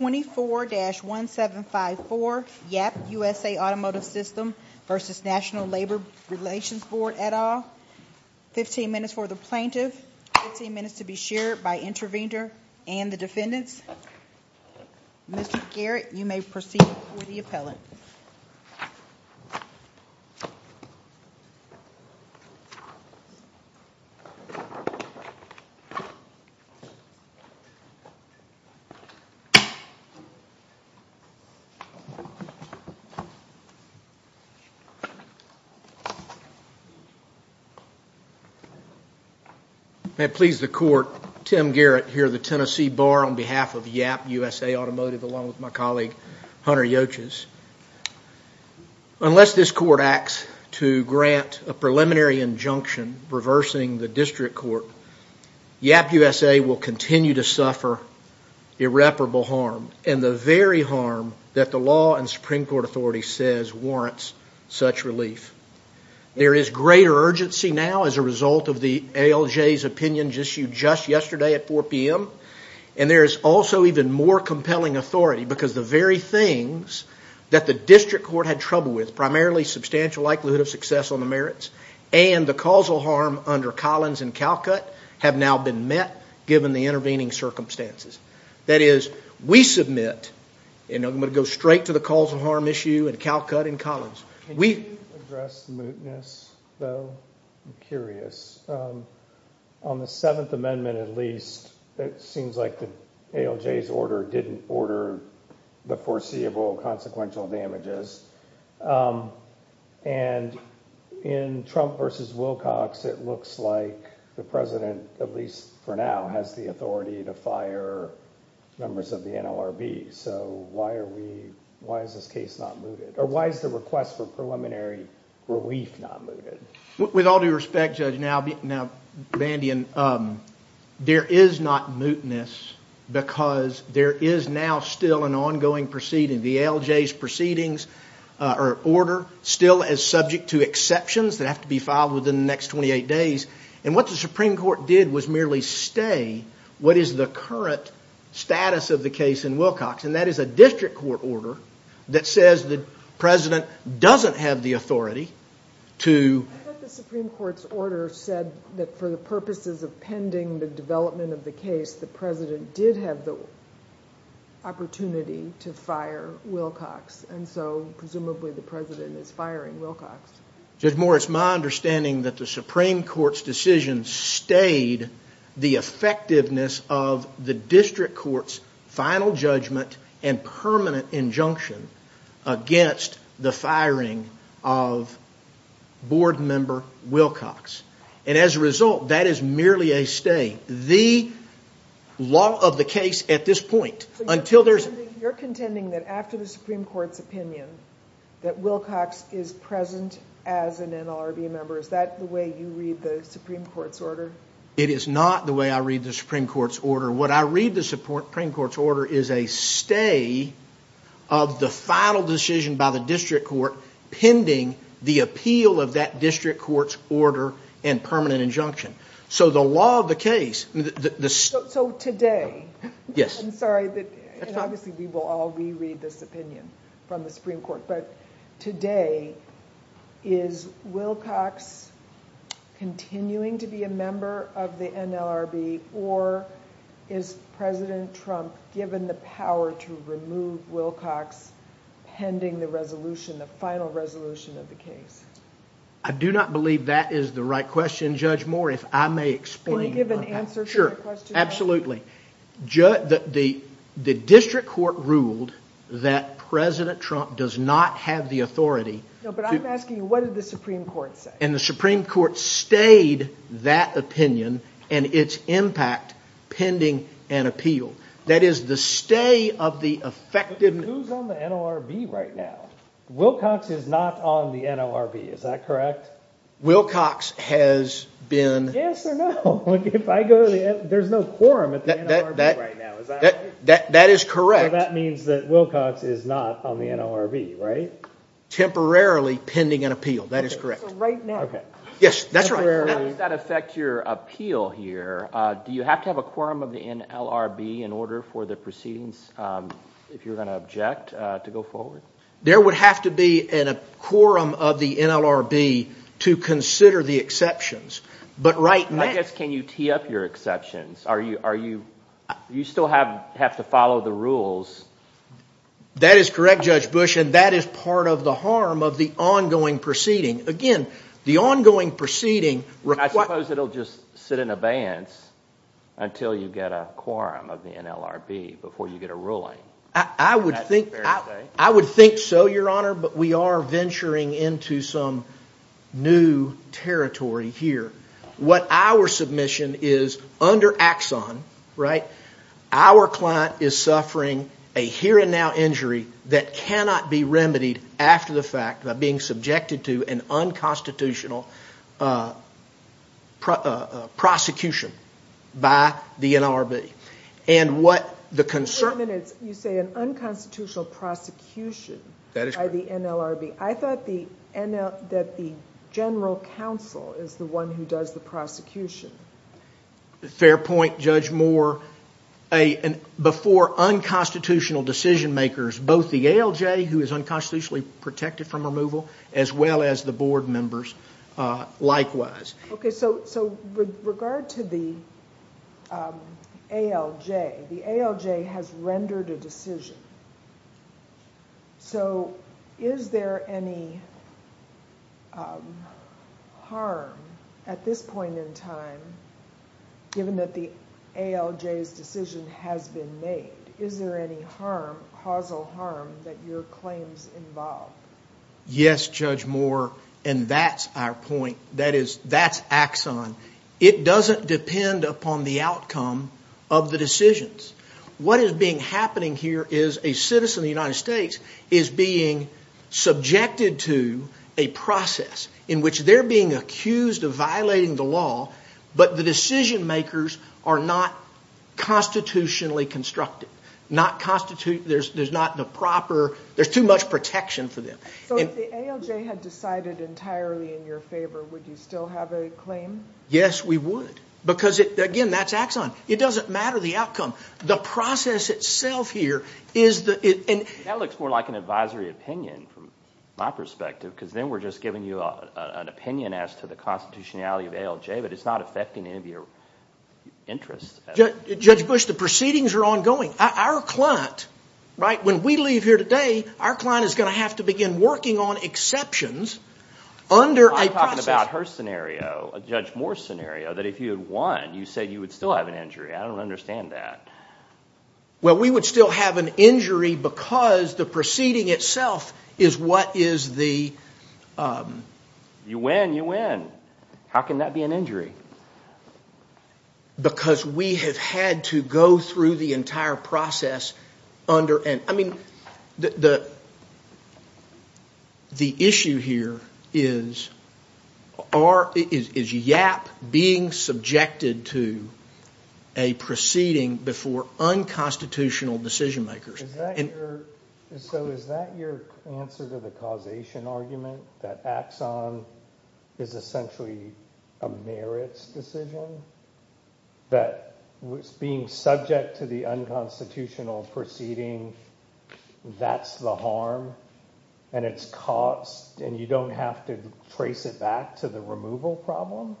24-1754 Yapp USA Automotive Systems v. National Labor Relations Board, et al. 15 minutes for the plaintiff, 15 minutes to be shared by the intervener and the defendants. Mr. Garrett, you may proceed with the appellant. May it please the court, Tim Garrett here of the Tennessee Bar on behalf of Yapp USA Automotive along with my colleague Hunter Yoches. Unless this court acts to grant a preliminary injunction reversing the district court, Yapp USA will continue to suffer irreparable harm and the very harm that the law and Supreme Court authority says warrants such relief. There is greater urgency now as a result of the ALJ's opinion issued just yesterday at 4 p.m. and there is also even more compelling authority because the very things that the district court had trouble with, primarily substantial likelihood of success on the merits basis, and the causal harm under Collins and Calcutt have now been met given the intervening circumstances. That is, we submit, and I'm going to go straight to the causal harm issue and Calcutt and Collins. Can you address the mootness though? I'm curious. On the Seventh Amendment at least, it seems like the ALJ's order didn't order the foreseeable consequential damages. In Trump v. Wilcox, it looks like the president, at least for now, has the authority to fire members of the NLRB. Why is this case not mooted? Why is the request for preliminary relief not mooted? With all due respect, Judge, there is not mootness because there is now still an ongoing proceeding, the ALJ's order still is subject to exceptions that have to be filed within the next 28 days. What the Supreme Court did was merely stay what is the current status of the case in Wilcox, and that is a district court order that says the president doesn't have the authority to... But the Supreme Court's order said that for the purposes of pending the development of opportunity to fire Wilcox, and so presumably the president is firing Wilcox. Judge Moore, it's my understanding that the Supreme Court's decision stayed the effectiveness of the district court's final judgment and permanent injunction against the firing of board member Wilcox, and as a result, that is merely a stay. The law of the case at this point, until there's... You're contending that after the Supreme Court's opinion that Wilcox is present as an NLRB member, is that the way you read the Supreme Court's order? It is not the way I read the Supreme Court's order. What I read the Supreme Court's order is a stay of the final decision by the district court pending the appeal of that district court's order and permanent injunction. So the law of the case... So today... Yes. I'm sorry, and obviously we will all reread this opinion from the Supreme Court, but today is Wilcox continuing to be a member of the NLRB, or is President Trump given the power to remove Wilcox pending the resolution, the final resolution of the case? I do not believe that is the right question, Judge Moore. If I may explain... Can you give an answer to that question? The district court ruled that President Trump does not have the authority... No, but I'm asking you, what did the Supreme Court say? And the Supreme Court stayed that opinion and its impact pending an appeal. That is the stay of the effective... But who's on the NLRB right now? Wilcox is not on the NLRB, is that correct? Wilcox has been... Yes or no? There's no quorum at the NLRB right now, is that right? That is correct. So that means that Wilcox is not on the NLRB, right? Temporarily pending an appeal, that is correct. So right now? Yes, that's right. How does that affect your appeal here? Do you have to have a quorum of the NLRB in order for the proceedings, if you're going to object, to go forward? There would have to be a quorum of the NLRB to consider the exceptions. But right now... I guess, can you tee up your exceptions? Do you still have to follow the rules? That is correct, Judge Bush, and that is part of the harm of the ongoing proceeding. Again, the ongoing proceeding requires... I suppose it'll just sit in abeyance until you get a quorum of the NLRB, before you get a ruling. I would think so, Your Honor, but we are venturing into some new territory here. What our submission is, under Axon, our client is suffering a here and now injury that cannot be remedied after the fact by being subjected to an unconstitutional prosecution by the NLRB. You say an unconstitutional prosecution by the NLRB. I thought that the general counsel is the one who does the prosecution. Fair point, Judge Moore. Before unconstitutional decision-makers, both the ALJ, who is unconstitutionally protected from removal, as well as the board members, likewise. With regard to the ALJ, the ALJ has rendered a decision. Is there any harm, at this point in time, given that the ALJ's decision has been made? Is there any harm, causal harm, that your claims involve? Yes, Judge Moore, and that's our point. That's Axon. It doesn't depend upon the outcome of the decisions. What is being happening here is a citizen of the United States is being subjected to a process in which they're being accused of violating the law, but the decision-makers are not constitutionally constructed. There's not the proper, there's too much protection for them. If the ALJ had decided entirely in your favor, would you still have a claim? Yes, we would, because, again, that's Axon. It doesn't matter the outcome. The process itself here is the... That looks more like an advisory opinion, from my perspective, because then we're just giving you an opinion as to the constitutionality of ALJ, but it's not affecting any of your interests. Judge Bush, the proceedings are ongoing. Our client, when we leave here today, our client is going to have to begin working on exceptions under a process... I'm talking about her scenario, Judge Moore's scenario, that if you had won, you said you would still have an injury. I don't understand that. Well, we would still have an injury because the proceeding itself is what is the... You win, you win. How can that be an injury? Because we have had to go through the entire process under... I mean, the issue here is YAP being subjected to a proceeding before unconstitutional decision makers. So is that your answer to the causation argument, that Axon is essentially a merits decision? That being subject to the unconstitutional proceeding, that's the harm, and it's cost, and you don't have to trace it back to the removal problem?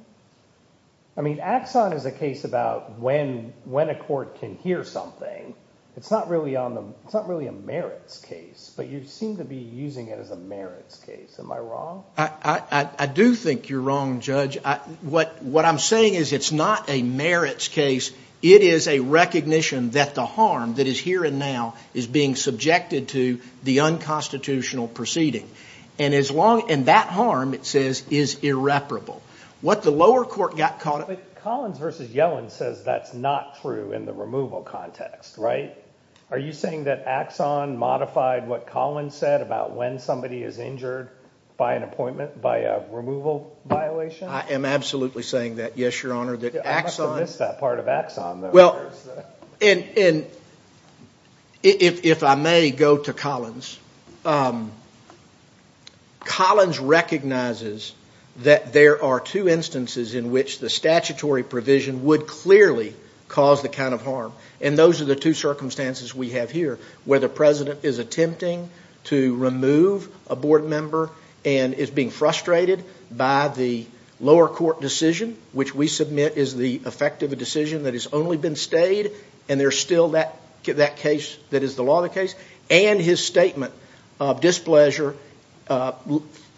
I mean, Axon is a case about when a court can hear something. It's not really a merits case, but you seem to be using it as a merits case. Am I wrong? I do think you're wrong, Judge. What I'm saying is it's not a merits case. It is a recognition that the harm that is here and now is being subjected to the unconstitutional proceeding. And that harm, it says, is irreparable. What the lower court got caught... Collins v. Yellen says that's not true in the removal context, right? Are you saying that Axon modified what Collins said about when somebody is injured by an appointment, by a removal violation? I am absolutely saying that, yes, Your Honor. I must have missed that part of Axon. Well, and if I may go to Collins. Collins recognizes that there are two instances in which the statutory provision would clearly cause the kind of harm, and those are the two circumstances we have here where the president is attempting to remove a board member and is being frustrated by the lower court decision, which we submit is the effect of a decision that has only been stayed and there's still that case that is the law of the case, and his statement of displeasure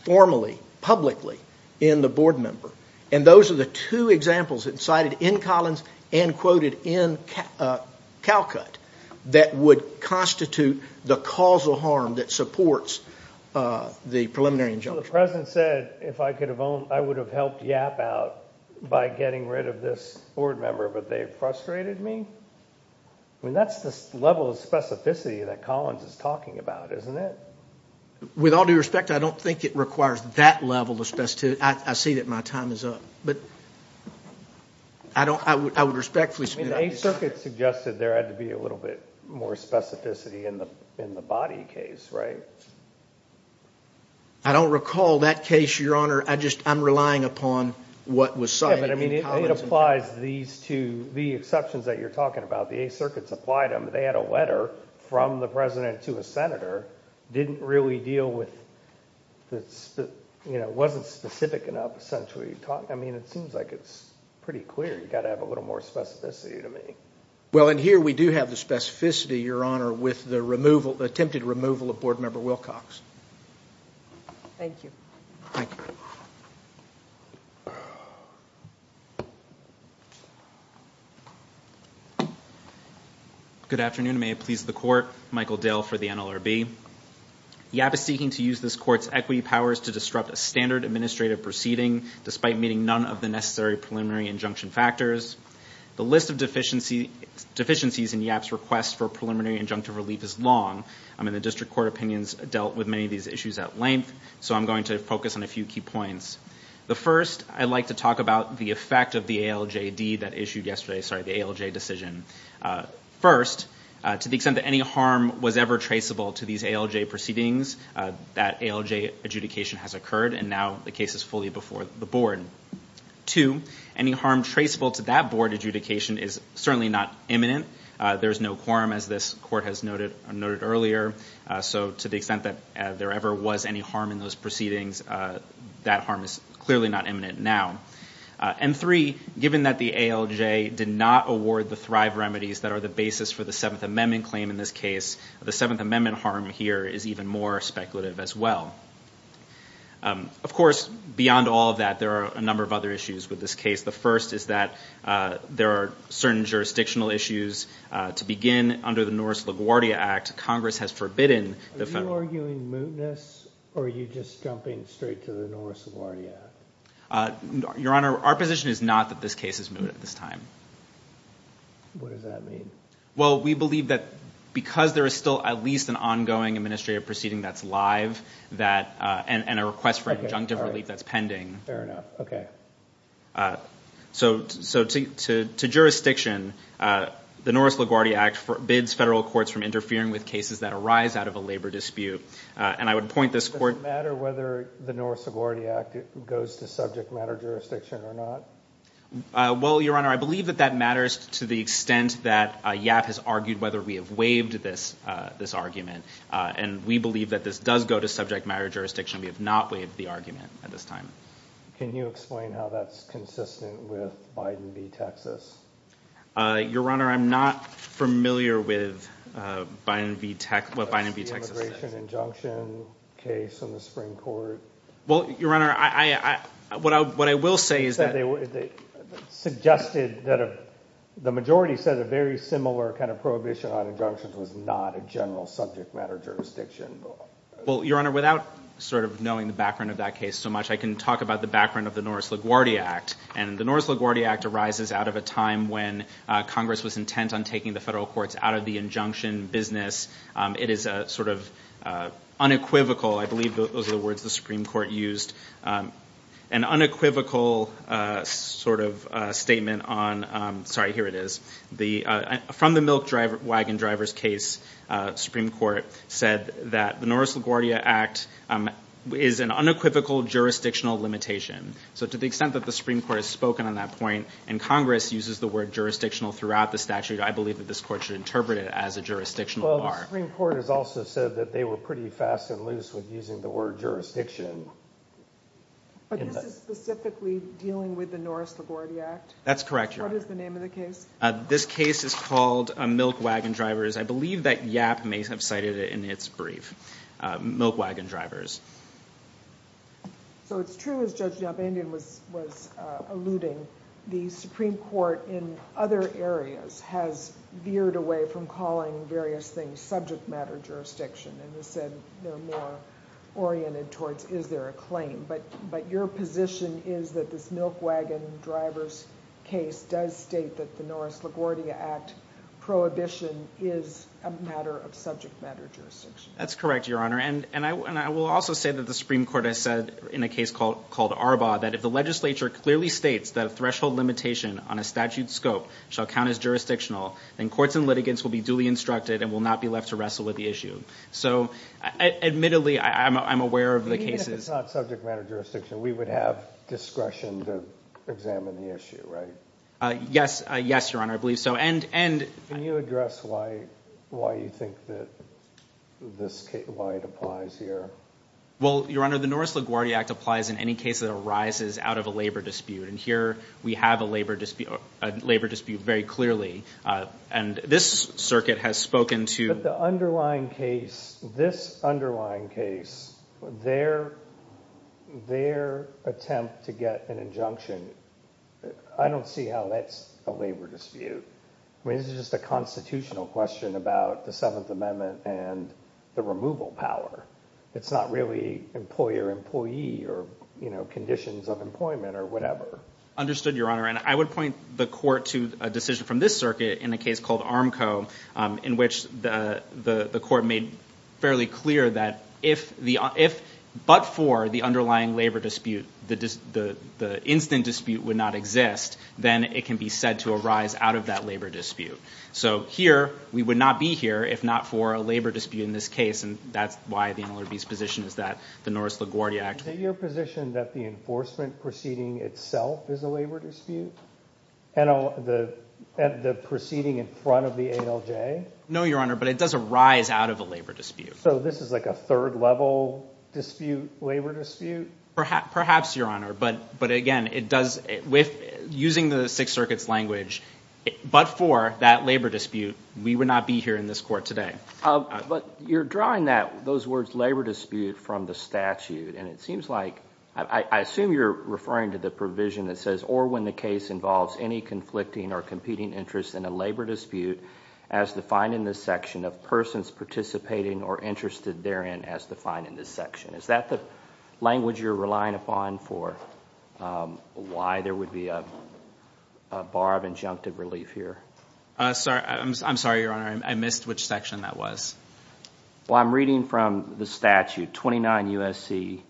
formally, publicly, in the board member. And those are the two examples cited in Collins and quoted in Calcutt that would constitute the causal harm that supports the preliminary injunction. So the president said, if I could have owned, I would have helped Yap out by getting rid of this board member, but they frustrated me? I mean, that's the level of specificity that Collins is talking about, isn't it? With all due respect, I don't think it requires that level of specificity. I see that my time is up, but I would respectfully submit that. I mean, the Eighth Circuit suggested there had to be a little bit more specificity in the body case, right? I don't recall that case, Your Honor. I'm relying upon what was cited in Collins. Yeah, but I mean, it applies these two, the exceptions that you're talking about. The Eighth Circuit supplied them. They had a letter from the president to a senator. It wasn't specific enough, essentially. I mean, it seems like it's pretty clear. You've got to have a little more specificity to me. Well, and here we do have the specificity, Your Honor, with the attempted removal of board member Wilcox. Thank you. Thank you. Good afternoon. May it please the Court. Michael Dale for the NLRB. YAP is seeking to use this Court's equity powers to disrupt a standard administrative proceeding, despite meeting none of the necessary preliminary injunction factors. The list of deficiencies in YAP's request for preliminary injunctive relief is long. I mean, the district court opinions dealt with many of these issues at length, so I'm going to focus on a few key points. The first, I'd like to talk about the effect of the ALJD that issued yesterday, sorry, the ALJ decision. First, to the extent that any harm was ever traceable to these ALJ proceedings, that ALJ adjudication has occurred, and now the case is fully before the board. Two, any harm traceable to that board adjudication is certainly not imminent. There is no quorum, as this Court has noted earlier. So to the extent that there ever was any harm in those proceedings, that harm is clearly not imminent now. And three, given that the ALJ did not award the thrive remedies that are the basis for the Seventh Amendment claim in this case, the Seventh Amendment harm here is even more speculative as well. Of course, beyond all of that, there are a number of other issues with this case. The first is that there are certain jurisdictional issues. To begin, under the Norris-LaGuardia Act, Congress has forbidden the federal… Are you arguing mootness, or are you just jumping straight to the Norris-LaGuardia Act? Your Honor, our position is not that this case is moot at this time. What does that mean? Well, we believe that because there is still at least an ongoing administrative proceeding that's live, and a request for injunctive relief that's pending… Fair enough, okay. So to jurisdiction, the Norris-LaGuardia Act forbids federal courts from interfering with cases that arise out of a labor dispute. And I would point this court… Does it matter whether the Norris-LaGuardia Act goes to subject matter jurisdiction or not? Well, Your Honor, I believe that that matters to the extent that YAP has argued whether we have waived this argument. And we believe that this does go to subject matter jurisdiction. We have not waived the argument at this time. Can you explain how that's consistent with Biden v. Texas? Your Honor, I'm not familiar with what Biden v. Texas says. The immigration injunction case in the Supreme Court… Well, Your Honor, what I will say is that… …suggested that a…the majority said a very similar kind of prohibition on injunctions was not a general subject matter jurisdiction. Well, Your Honor, without sort of knowing the background of that case so much, I can talk about the background of the Norris-LaGuardia Act. And the Norris-LaGuardia Act arises out of a time when Congress was intent on taking the federal courts out of the injunction business. It is a sort of unequivocal, I believe those are the words the Supreme Court used, an unequivocal sort of statement on… Sorry, here it is. From the milk wagon driver's case, Supreme Court said that the Norris-LaGuardia Act is an unequivocal jurisdictional limitation. So to the extent that the Supreme Court has spoken on that point and Congress uses the word jurisdictional throughout the statute, I believe that this court should interpret it as a jurisdictional bar. Well, the Supreme Court has also said that they were pretty fast and loose with using the word jurisdiction. But this is specifically dealing with the Norris-LaGuardia Act? That's correct, Your Honor. What is the name of the case? This case is called Milk Wagon Drivers. I believe that Yapp may have cited it in its brief. Milk Wagon Drivers. So it's true as Judge Yapp was alluding, the Supreme Court in other areas has veered away from calling various things subject matter jurisdiction and has said they're more oriented towards is there a claim. But your position is that this Milk Wagon Drivers case does state that the Norris-LaGuardia Act prohibition is a matter of subject matter jurisdiction. That's correct, Your Honor. And I will also say that the Supreme Court has said in a case called Arbaugh that if the legislature clearly states that a threshold limitation on a statute scope shall count as jurisdictional, then courts and litigants will be duly instructed and will not be left to wrestle with the issue. So admittedly, I'm aware of the cases. It's not subject matter jurisdiction. We would have discretion to examine the issue, right? Yes, Your Honor. I believe so. Can you address why you think that this case, why it applies here? Well, Your Honor, the Norris-LaGuardia Act applies in any case that arises out of a labor dispute. And here we have a labor dispute very clearly. And this circuit has spoken to. But the underlying case, this underlying case, their attempt to get an injunction, I don't see how that's a labor dispute. I mean, this is just a constitutional question about the Seventh Amendment and the removal power. It's not really employer-employee or conditions of employment or whatever. Understood, Your Honor. And I would point the court to a decision from this circuit in a case called Armco in which the court made fairly clear that if but for the underlying labor dispute, the instant dispute would not exist, then it can be said to arise out of that labor dispute. So here we would not be here if not for a labor dispute in this case. And that's why the MLRB's position is that the Norris-LaGuardia Act. Is it your position that the enforcement proceeding itself is a labor dispute? And the proceeding in front of the ALJ? No, Your Honor, but it does arise out of a labor dispute. So this is like a third-level dispute, labor dispute? Perhaps, Your Honor. But again, using the Sixth Circuit's language, but for that labor dispute, we would not be here in this court today. But you're drawing that, those words labor dispute, from the statute, and it seems like, I assume you're referring to the provision that says, or when the case involves any conflicting or competing interest in a labor dispute, as defined in this section of persons participating or interested therein as defined in this section. Is that the language you're relying upon for why there would be a bar of injunctive relief here? I'm sorry, Your Honor, I missed which section that was. Well, I'm reading from the statute, 29 U.S.C.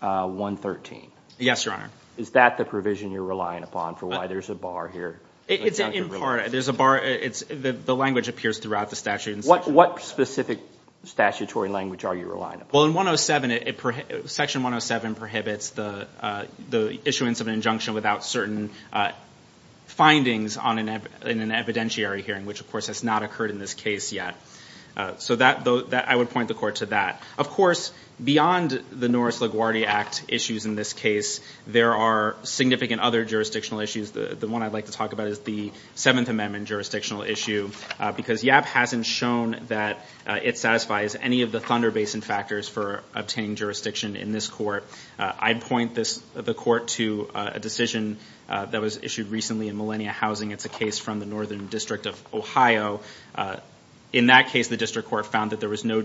113. Yes, Your Honor. Is that the provision you're relying upon for why there's a bar here? It's in part. There's a bar. The language appears throughout the statute. What specific statutory language are you relying upon? Section 107 prohibits the issuance of an injunction without certain findings in an evidentiary hearing, which of course has not occurred in this case yet. So I would point the court to that. Of course, beyond the Norris-Laguardia Act issues in this case, there are significant other jurisdictional issues. The one I'd like to talk about is the Seventh Amendment jurisdictional issue, because YAP hasn't shown that it satisfies any of the Thunder Basin factors for obtaining jurisdiction in this court. I'd point the court to a decision that was issued recently in Millennia Housing. It's a case from the Northern District of Ohio. In that case, the district court found that there was no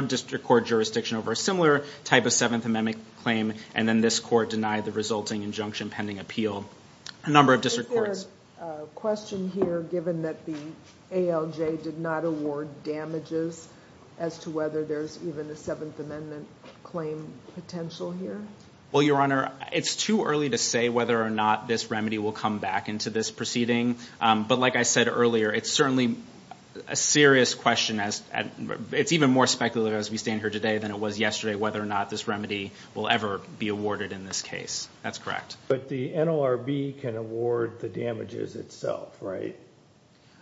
district court jurisdiction over a similar type of Seventh Amendment claim, and then this court denied the resulting injunction pending appeal. A number of district courts. Is there a question here, given that the ALJ did not award damages, as to whether there's even a Seventh Amendment claim potential here? Well, Your Honor, it's too early to say whether or not this remedy will come back into this proceeding. But like I said earlier, it's certainly a serious question. It's even more speculative as we stand here today than it was yesterday, whether or not this remedy will ever be awarded in this case. That's correct. But the NLRB can award the damages itself, right?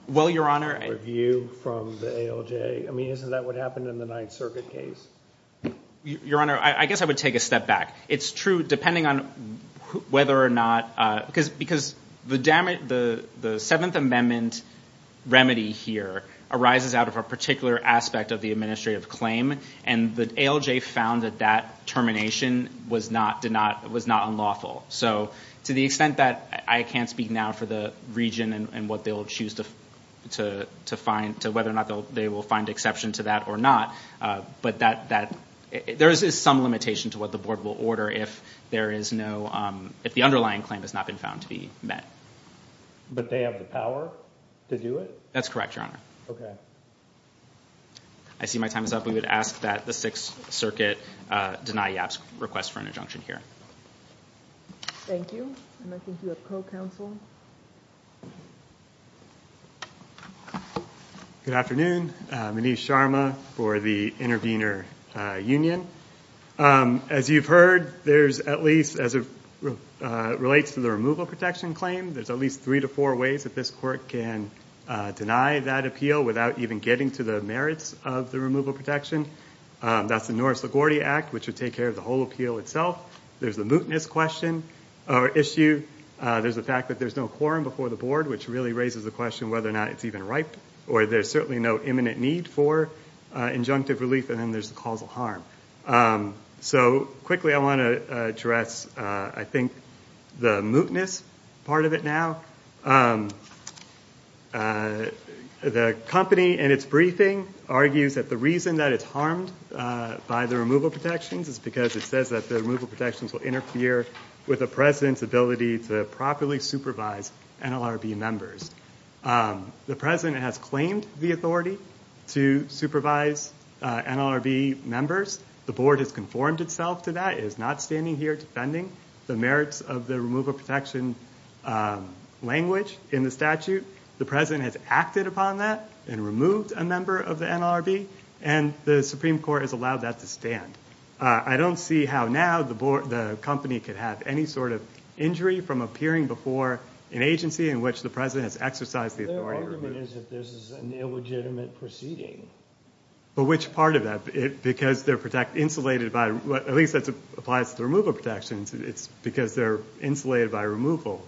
Well, Your Honor. A review from the ALJ. I mean, isn't that what happened in the Ninth Circuit case? Your Honor, I guess I would take a step back. It's true, depending on whether or not – because the Seventh Amendment remedy here arises out of a particular aspect of the administrative claim, and the ALJ found that that termination was not unlawful. So to the extent that I can't speak now for the region and whether or not they will find exception to that or not, but there is some limitation to what the Board will order if the underlying claim has not been found to be met. But they have the power to do it? That's correct, Your Honor. Okay. I see my time is up. We would ask that the Sixth Circuit deny Yap's request for an injunction here. Thank you. And I think you have co-counsel. Good afternoon. Manish Sharma for the Intervenor Union. As you've heard, there's at least – as it relates to the removal protection claim, there's at least three to four ways that this Court can deny that appeal without even getting to the merits of the removal protection. That's the Norris-Lagordi Act, which would take care of the whole appeal itself. There's the mootness question or issue. There's the fact that there's no quorum before the Board, which really raises the question whether or not it's even ripe, or there's certainly no imminent need for injunctive relief, and then there's the causal harm. So quickly, I want to address, I think, the mootness part of it now. The company in its briefing argues that the reason that it's harmed by the removal protections is because it says that the removal protections will interfere with the President's ability to properly supervise NLRB members. The President has claimed the authority to supervise NLRB members. The Board has conformed itself to that. It is not standing here defending the merits of the removal protection language in the statute. The President has acted upon that and removed a member of the NLRB, and the Supreme Court has allowed that to stand. I don't see how now the company could have any sort of injury from appearing before an agency in which the President has exercised the authority to remove. Their argument is that this is an illegitimate proceeding. But which part of that? Because they're insulated by, at least that applies to the removal protections, it's because they're insulated by removal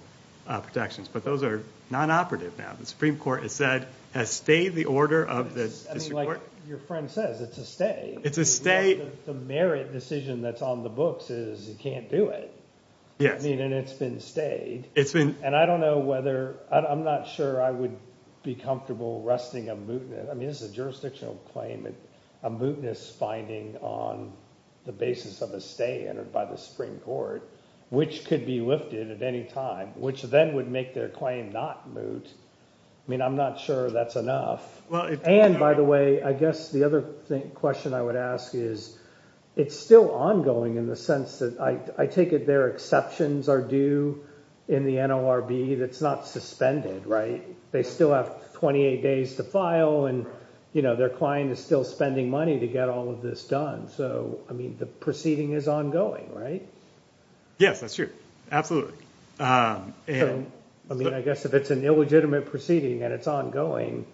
protections, but those are non-operative now. The Supreme Court has said, has stayed the order of the district court. I mean, like your friend says, it's a stay. It's a stay. The merit decision that's on the books is you can't do it. Yes. I mean, and it's been stayed. It's been – And I don't know whether – I'm not sure I would be comfortable arresting a mootness. I mean this is a jurisdictional claim, a mootness finding on the basis of a stay entered by the Supreme Court, which could be lifted at any time, which then would make their claim not moot. I mean I'm not sure that's enough. And, by the way, I guess the other question I would ask is it's still ongoing in the sense that – I take it their exceptions are due in the NLRB that's not suspended, right? They still have 28 days to file, and their client is still spending money to get all of this done. So, I mean the proceeding is ongoing, right? Yes, that's true. Absolutely. I mean I guess if it's an illegitimate proceeding and it's ongoing,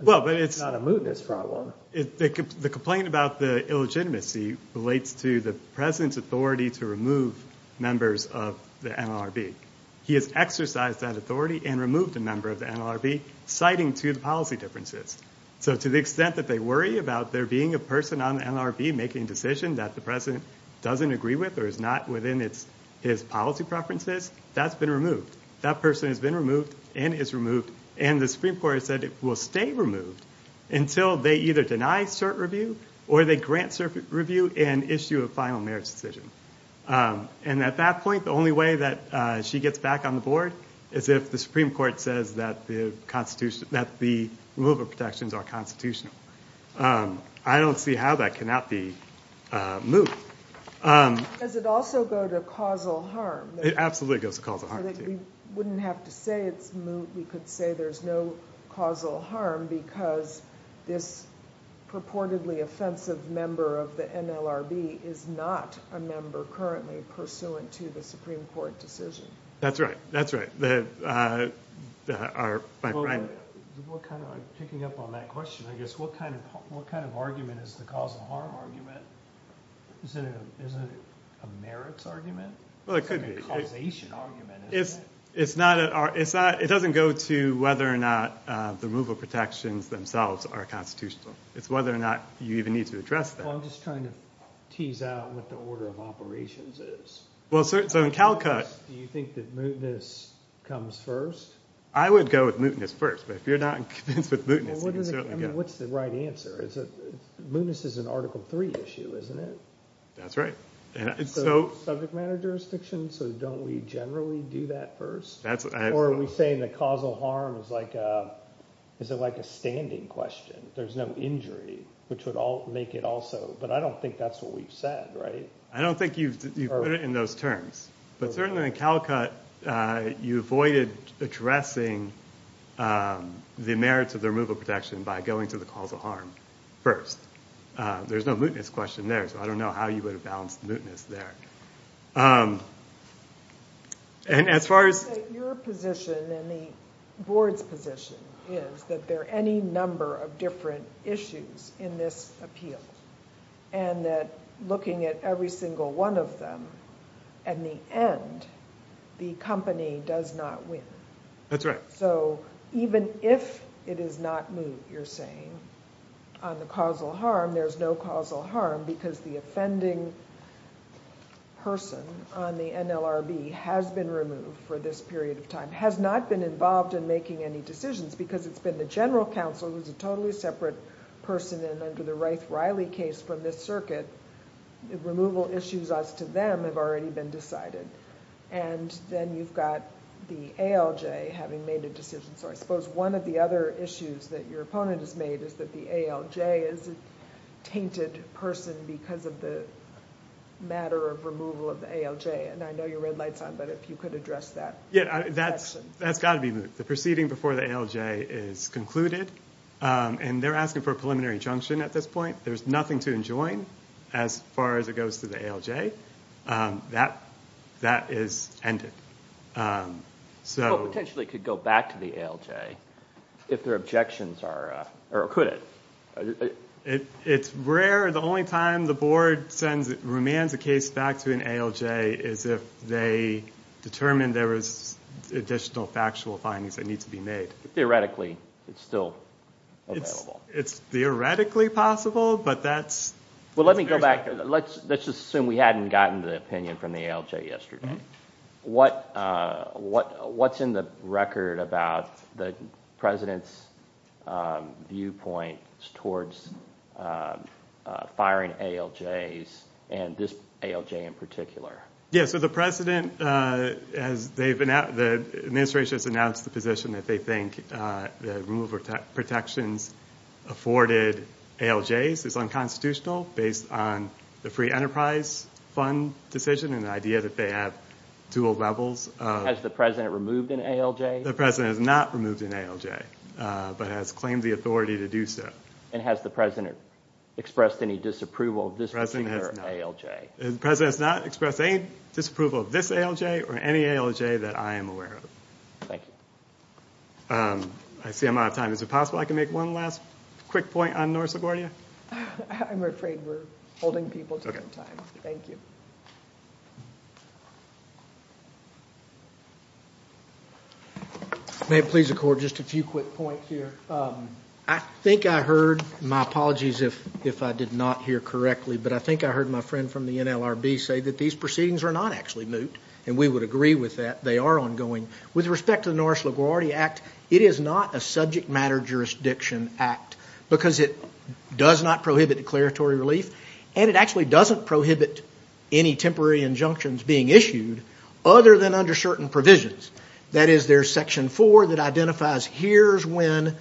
it's not a mootness problem. The complaint about the illegitimacy relates to the president's authority to remove members of the NLRB. He has exercised that authority and removed a member of the NLRB citing to the policy differences. So to the extent that they worry about there being a person on the NLRB making a decision that the president doesn't agree with or is not within his policy preferences, that's been removed. That person has been removed and is removed. And the Supreme Court has said it will stay removed until they either deny cert review or they grant cert review and issue a final merits decision. And at that point, the only way that she gets back on the board is if the Supreme Court says that the removal protections are constitutional. I don't see how that cannot be moot. Does it also go to causal harm? It absolutely goes to causal harm. We wouldn't have to say it's moot. We could say there's no causal harm because this purportedly offensive member of the NLRB is not a member currently pursuant to the Supreme Court decision. That's right. What kind of argument is the causal harm argument? Isn't it a merits argument? It's not – it doesn't go to whether or not the removal protections themselves are constitutional. It's whether or not you even need to address that. I'm just trying to tease out what the order of operations is. Do you think that mootness comes first? I would go with mootness first, but if you're not convinced with mootness, you can certainly go. What's the right answer? Mootness is an Article III issue, isn't it? That's right. Subject matter jurisdiction, so don't we generally do that first? Or are we saying that causal harm is like a standing question? There's no injury, which would make it also – but I don't think that's what we've said, right? I don't think you've put it in those terms. But certainly in Calcutt, you avoided addressing the merits of the removal protection by going to the causal harm first. There's no mootness question there, so I don't know how you would have balanced the mootness there. Your position and the Board's position is that there are any number of different issues in this appeal and that looking at every single one of them, in the end, the company does not win. That's right. So even if it is not moot, you're saying, on the causal harm, there's no causal harm because the offending person on the NLRB has been removed for this period of time, has not been involved in making any decisions because it's been the general counsel, who's a totally separate person, and under the Wright-Riley case from this circuit, removal issues as to them have already been decided. And then you've got the ALJ having made a decision. So I suppose one of the other issues that your opponent has made is that the ALJ is a tainted person because of the matter of removal of the ALJ. And I know you're red lights on, but if you could address that. That's got to be moot. The proceeding before the ALJ is concluded, and they're asking for a preliminary injunction at this point. There's nothing to enjoin as far as it goes to the ALJ. That is ended. Well, it potentially could go back to the ALJ if their objections are, or could it? It's rare. The only time the board remands a case back to an ALJ is if they determine there was additional factual findings that need to be made. Theoretically, it's still available. It's theoretically possible, but that's- Well, let me go back. Let's just assume we hadn't gotten the opinion from the ALJ yesterday. What's in the record about the president's viewpoint towards firing ALJs, and this ALJ in particular? The administration has announced the position that they think the removal of protections afforded ALJs is unconstitutional based on the Free Enterprise Fund decision and the idea that they have dual levels of- Has the president removed an ALJ? The president has not removed an ALJ, but has claimed the authority to do so. And has the president expressed any disapproval of this particular ALJ? The president has not expressed any disapproval of this ALJ or any ALJ that I am aware of. Thank you. I see I'm out of time. Is it possible I could make one last quick point on North Sibornia? I'm afraid we're holding people to their time. Thank you. May it please the Court, just a few quick points here. I think I heard- my apologies if I did not hear correctly- but I think I heard my friend from the NLRB say that these proceedings are not actually moot, and we would agree with that. They are ongoing. With respect to the Norris LaGuardia Act, it is not a subject matter jurisdiction act because it does not prohibit declaratory relief, and it actually doesn't prohibit any temporary injunctions being issued other than under certain provisions. That is, there's section 4 that identifies here's when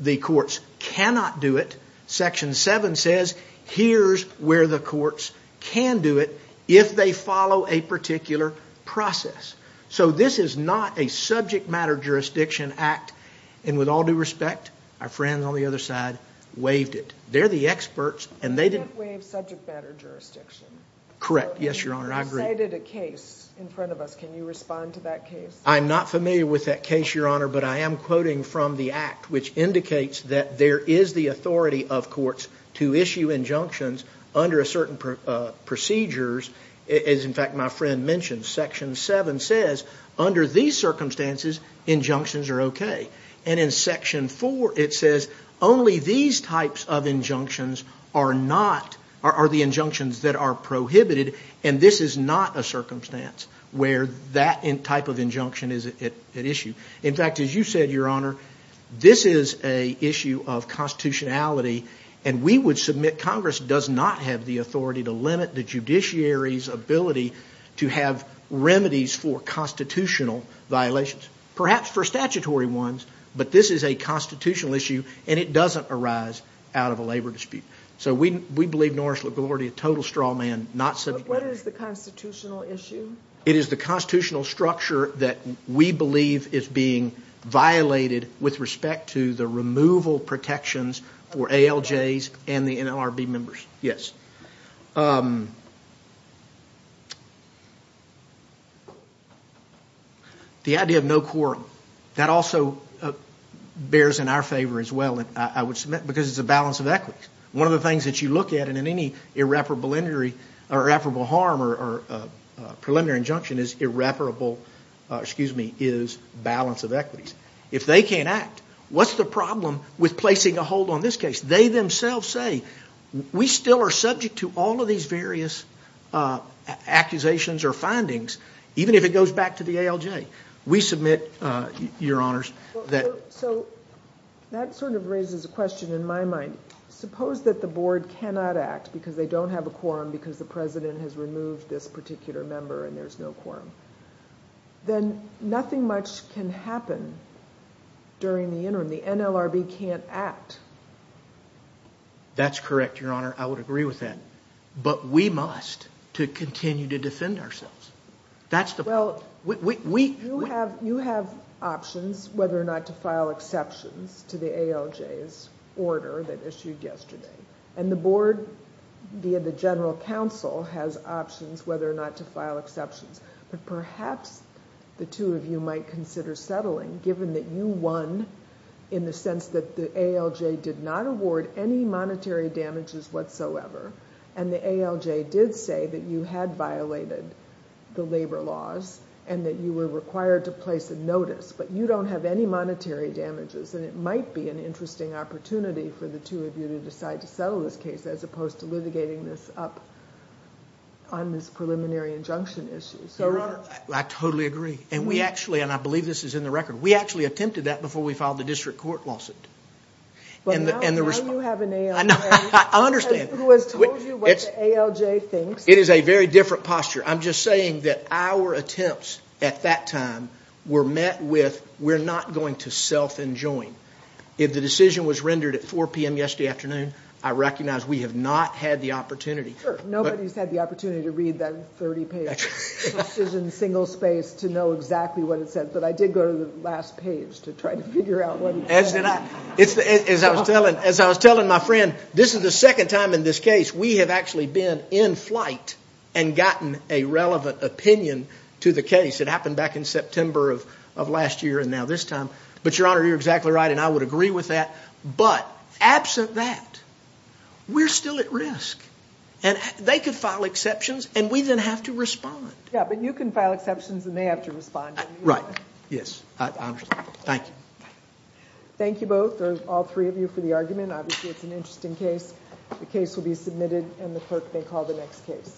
the courts cannot do it. Section 7 says here's where the courts can do it if they follow a particular process. So this is not a subject matter jurisdiction act. And with all due respect, our friends on the other side waived it. They're the experts, and they didn't- You can't waive subject matter jurisdiction. Correct. Yes, Your Honor, I agree. You cited a case in front of us. Can you respond to that case? I'm not familiar with that case, Your Honor, but I am quoting from the act, which indicates that there is the authority of courts to issue injunctions under certain procedures. As, in fact, my friend mentioned, section 7 says under these circumstances, injunctions are okay. And in section 4, it says only these types of injunctions are the injunctions that are prohibited, and this is not a circumstance where that type of injunction is at issue. In fact, as you said, Your Honor, this is an issue of constitutionality, and we would submit Congress does not have the authority to limit the judiciary's ability to have remedies for constitutional violations. Perhaps for statutory ones, but this is a constitutional issue, and it doesn't arise out of a labor dispute. So we believe Norris LaGuardia, a total straw man, not subject matter. But what is the constitutional issue? It is the constitutional structure that we believe is being violated with respect to the removal protections for ALJs and the NLRB members. The idea of no court, that also bears in our favor as well, I would submit, because it's a balance of equities. One of the things that you look at in any irreparable injury or irreparable harm or preliminary injunction is irreparable, excuse me, is balance of equities. If they can't act, what's the problem with placing a hold on this case? They themselves say, we still are subject to all of these various accusations or findings, even if it goes back to the ALJ. We submit, Your Honors, that... So that sort of raises a question in my mind. Suppose that the board cannot act because they don't have a quorum because the president has removed this particular member and there's no quorum. Then nothing much can happen during the interim. The NLRB can't act. That's correct, Your Honor. I would agree with that. But we must to continue to defend ourselves. That's the point. You have options whether or not to file exceptions to the ALJ's order that issued yesterday. And the board, via the general counsel, has options whether or not to file exceptions. But perhaps the two of you might consider settling, given that you won in the sense that the ALJ did not award any monetary damages whatsoever. And the ALJ did say that you had violated the labor laws and that you were required to place a notice. But you don't have any monetary damages. And it might be an interesting opportunity for the two of you to decide to settle this case as opposed to litigating this up on this preliminary injunction issue. Your Honor, I totally agree. And I believe this is in the record. We actually attempted that before we filed the district court lawsuit. But now you have an ALJ who has told you what the ALJ thinks. It is a very different posture. I'm just saying that our attempts at that time were met with we're not going to self-enjoin. If the decision was rendered at 4 p.m. yesterday afternoon, I recognize we have not had the opportunity. Nobody's had the opportunity to read that 30-page decision single-space to know exactly what it said. But I did go to the last page to try to figure out what it said. As I was telling my friend, this is the second time in this case we have actually been in flight and gotten a relevant opinion to the case. It happened back in September of last year and now this time. But, Your Honor, you're exactly right, and I would agree with that. But absent that, we're still at risk. And they could file exceptions and we then have to respond. Yeah, but you can file exceptions and they have to respond. Right. Yes. I understand. Thank you. Thank you both, or all three of you, for the argument. Obviously it's an interesting case. The case will be submitted and the clerk may call the next case.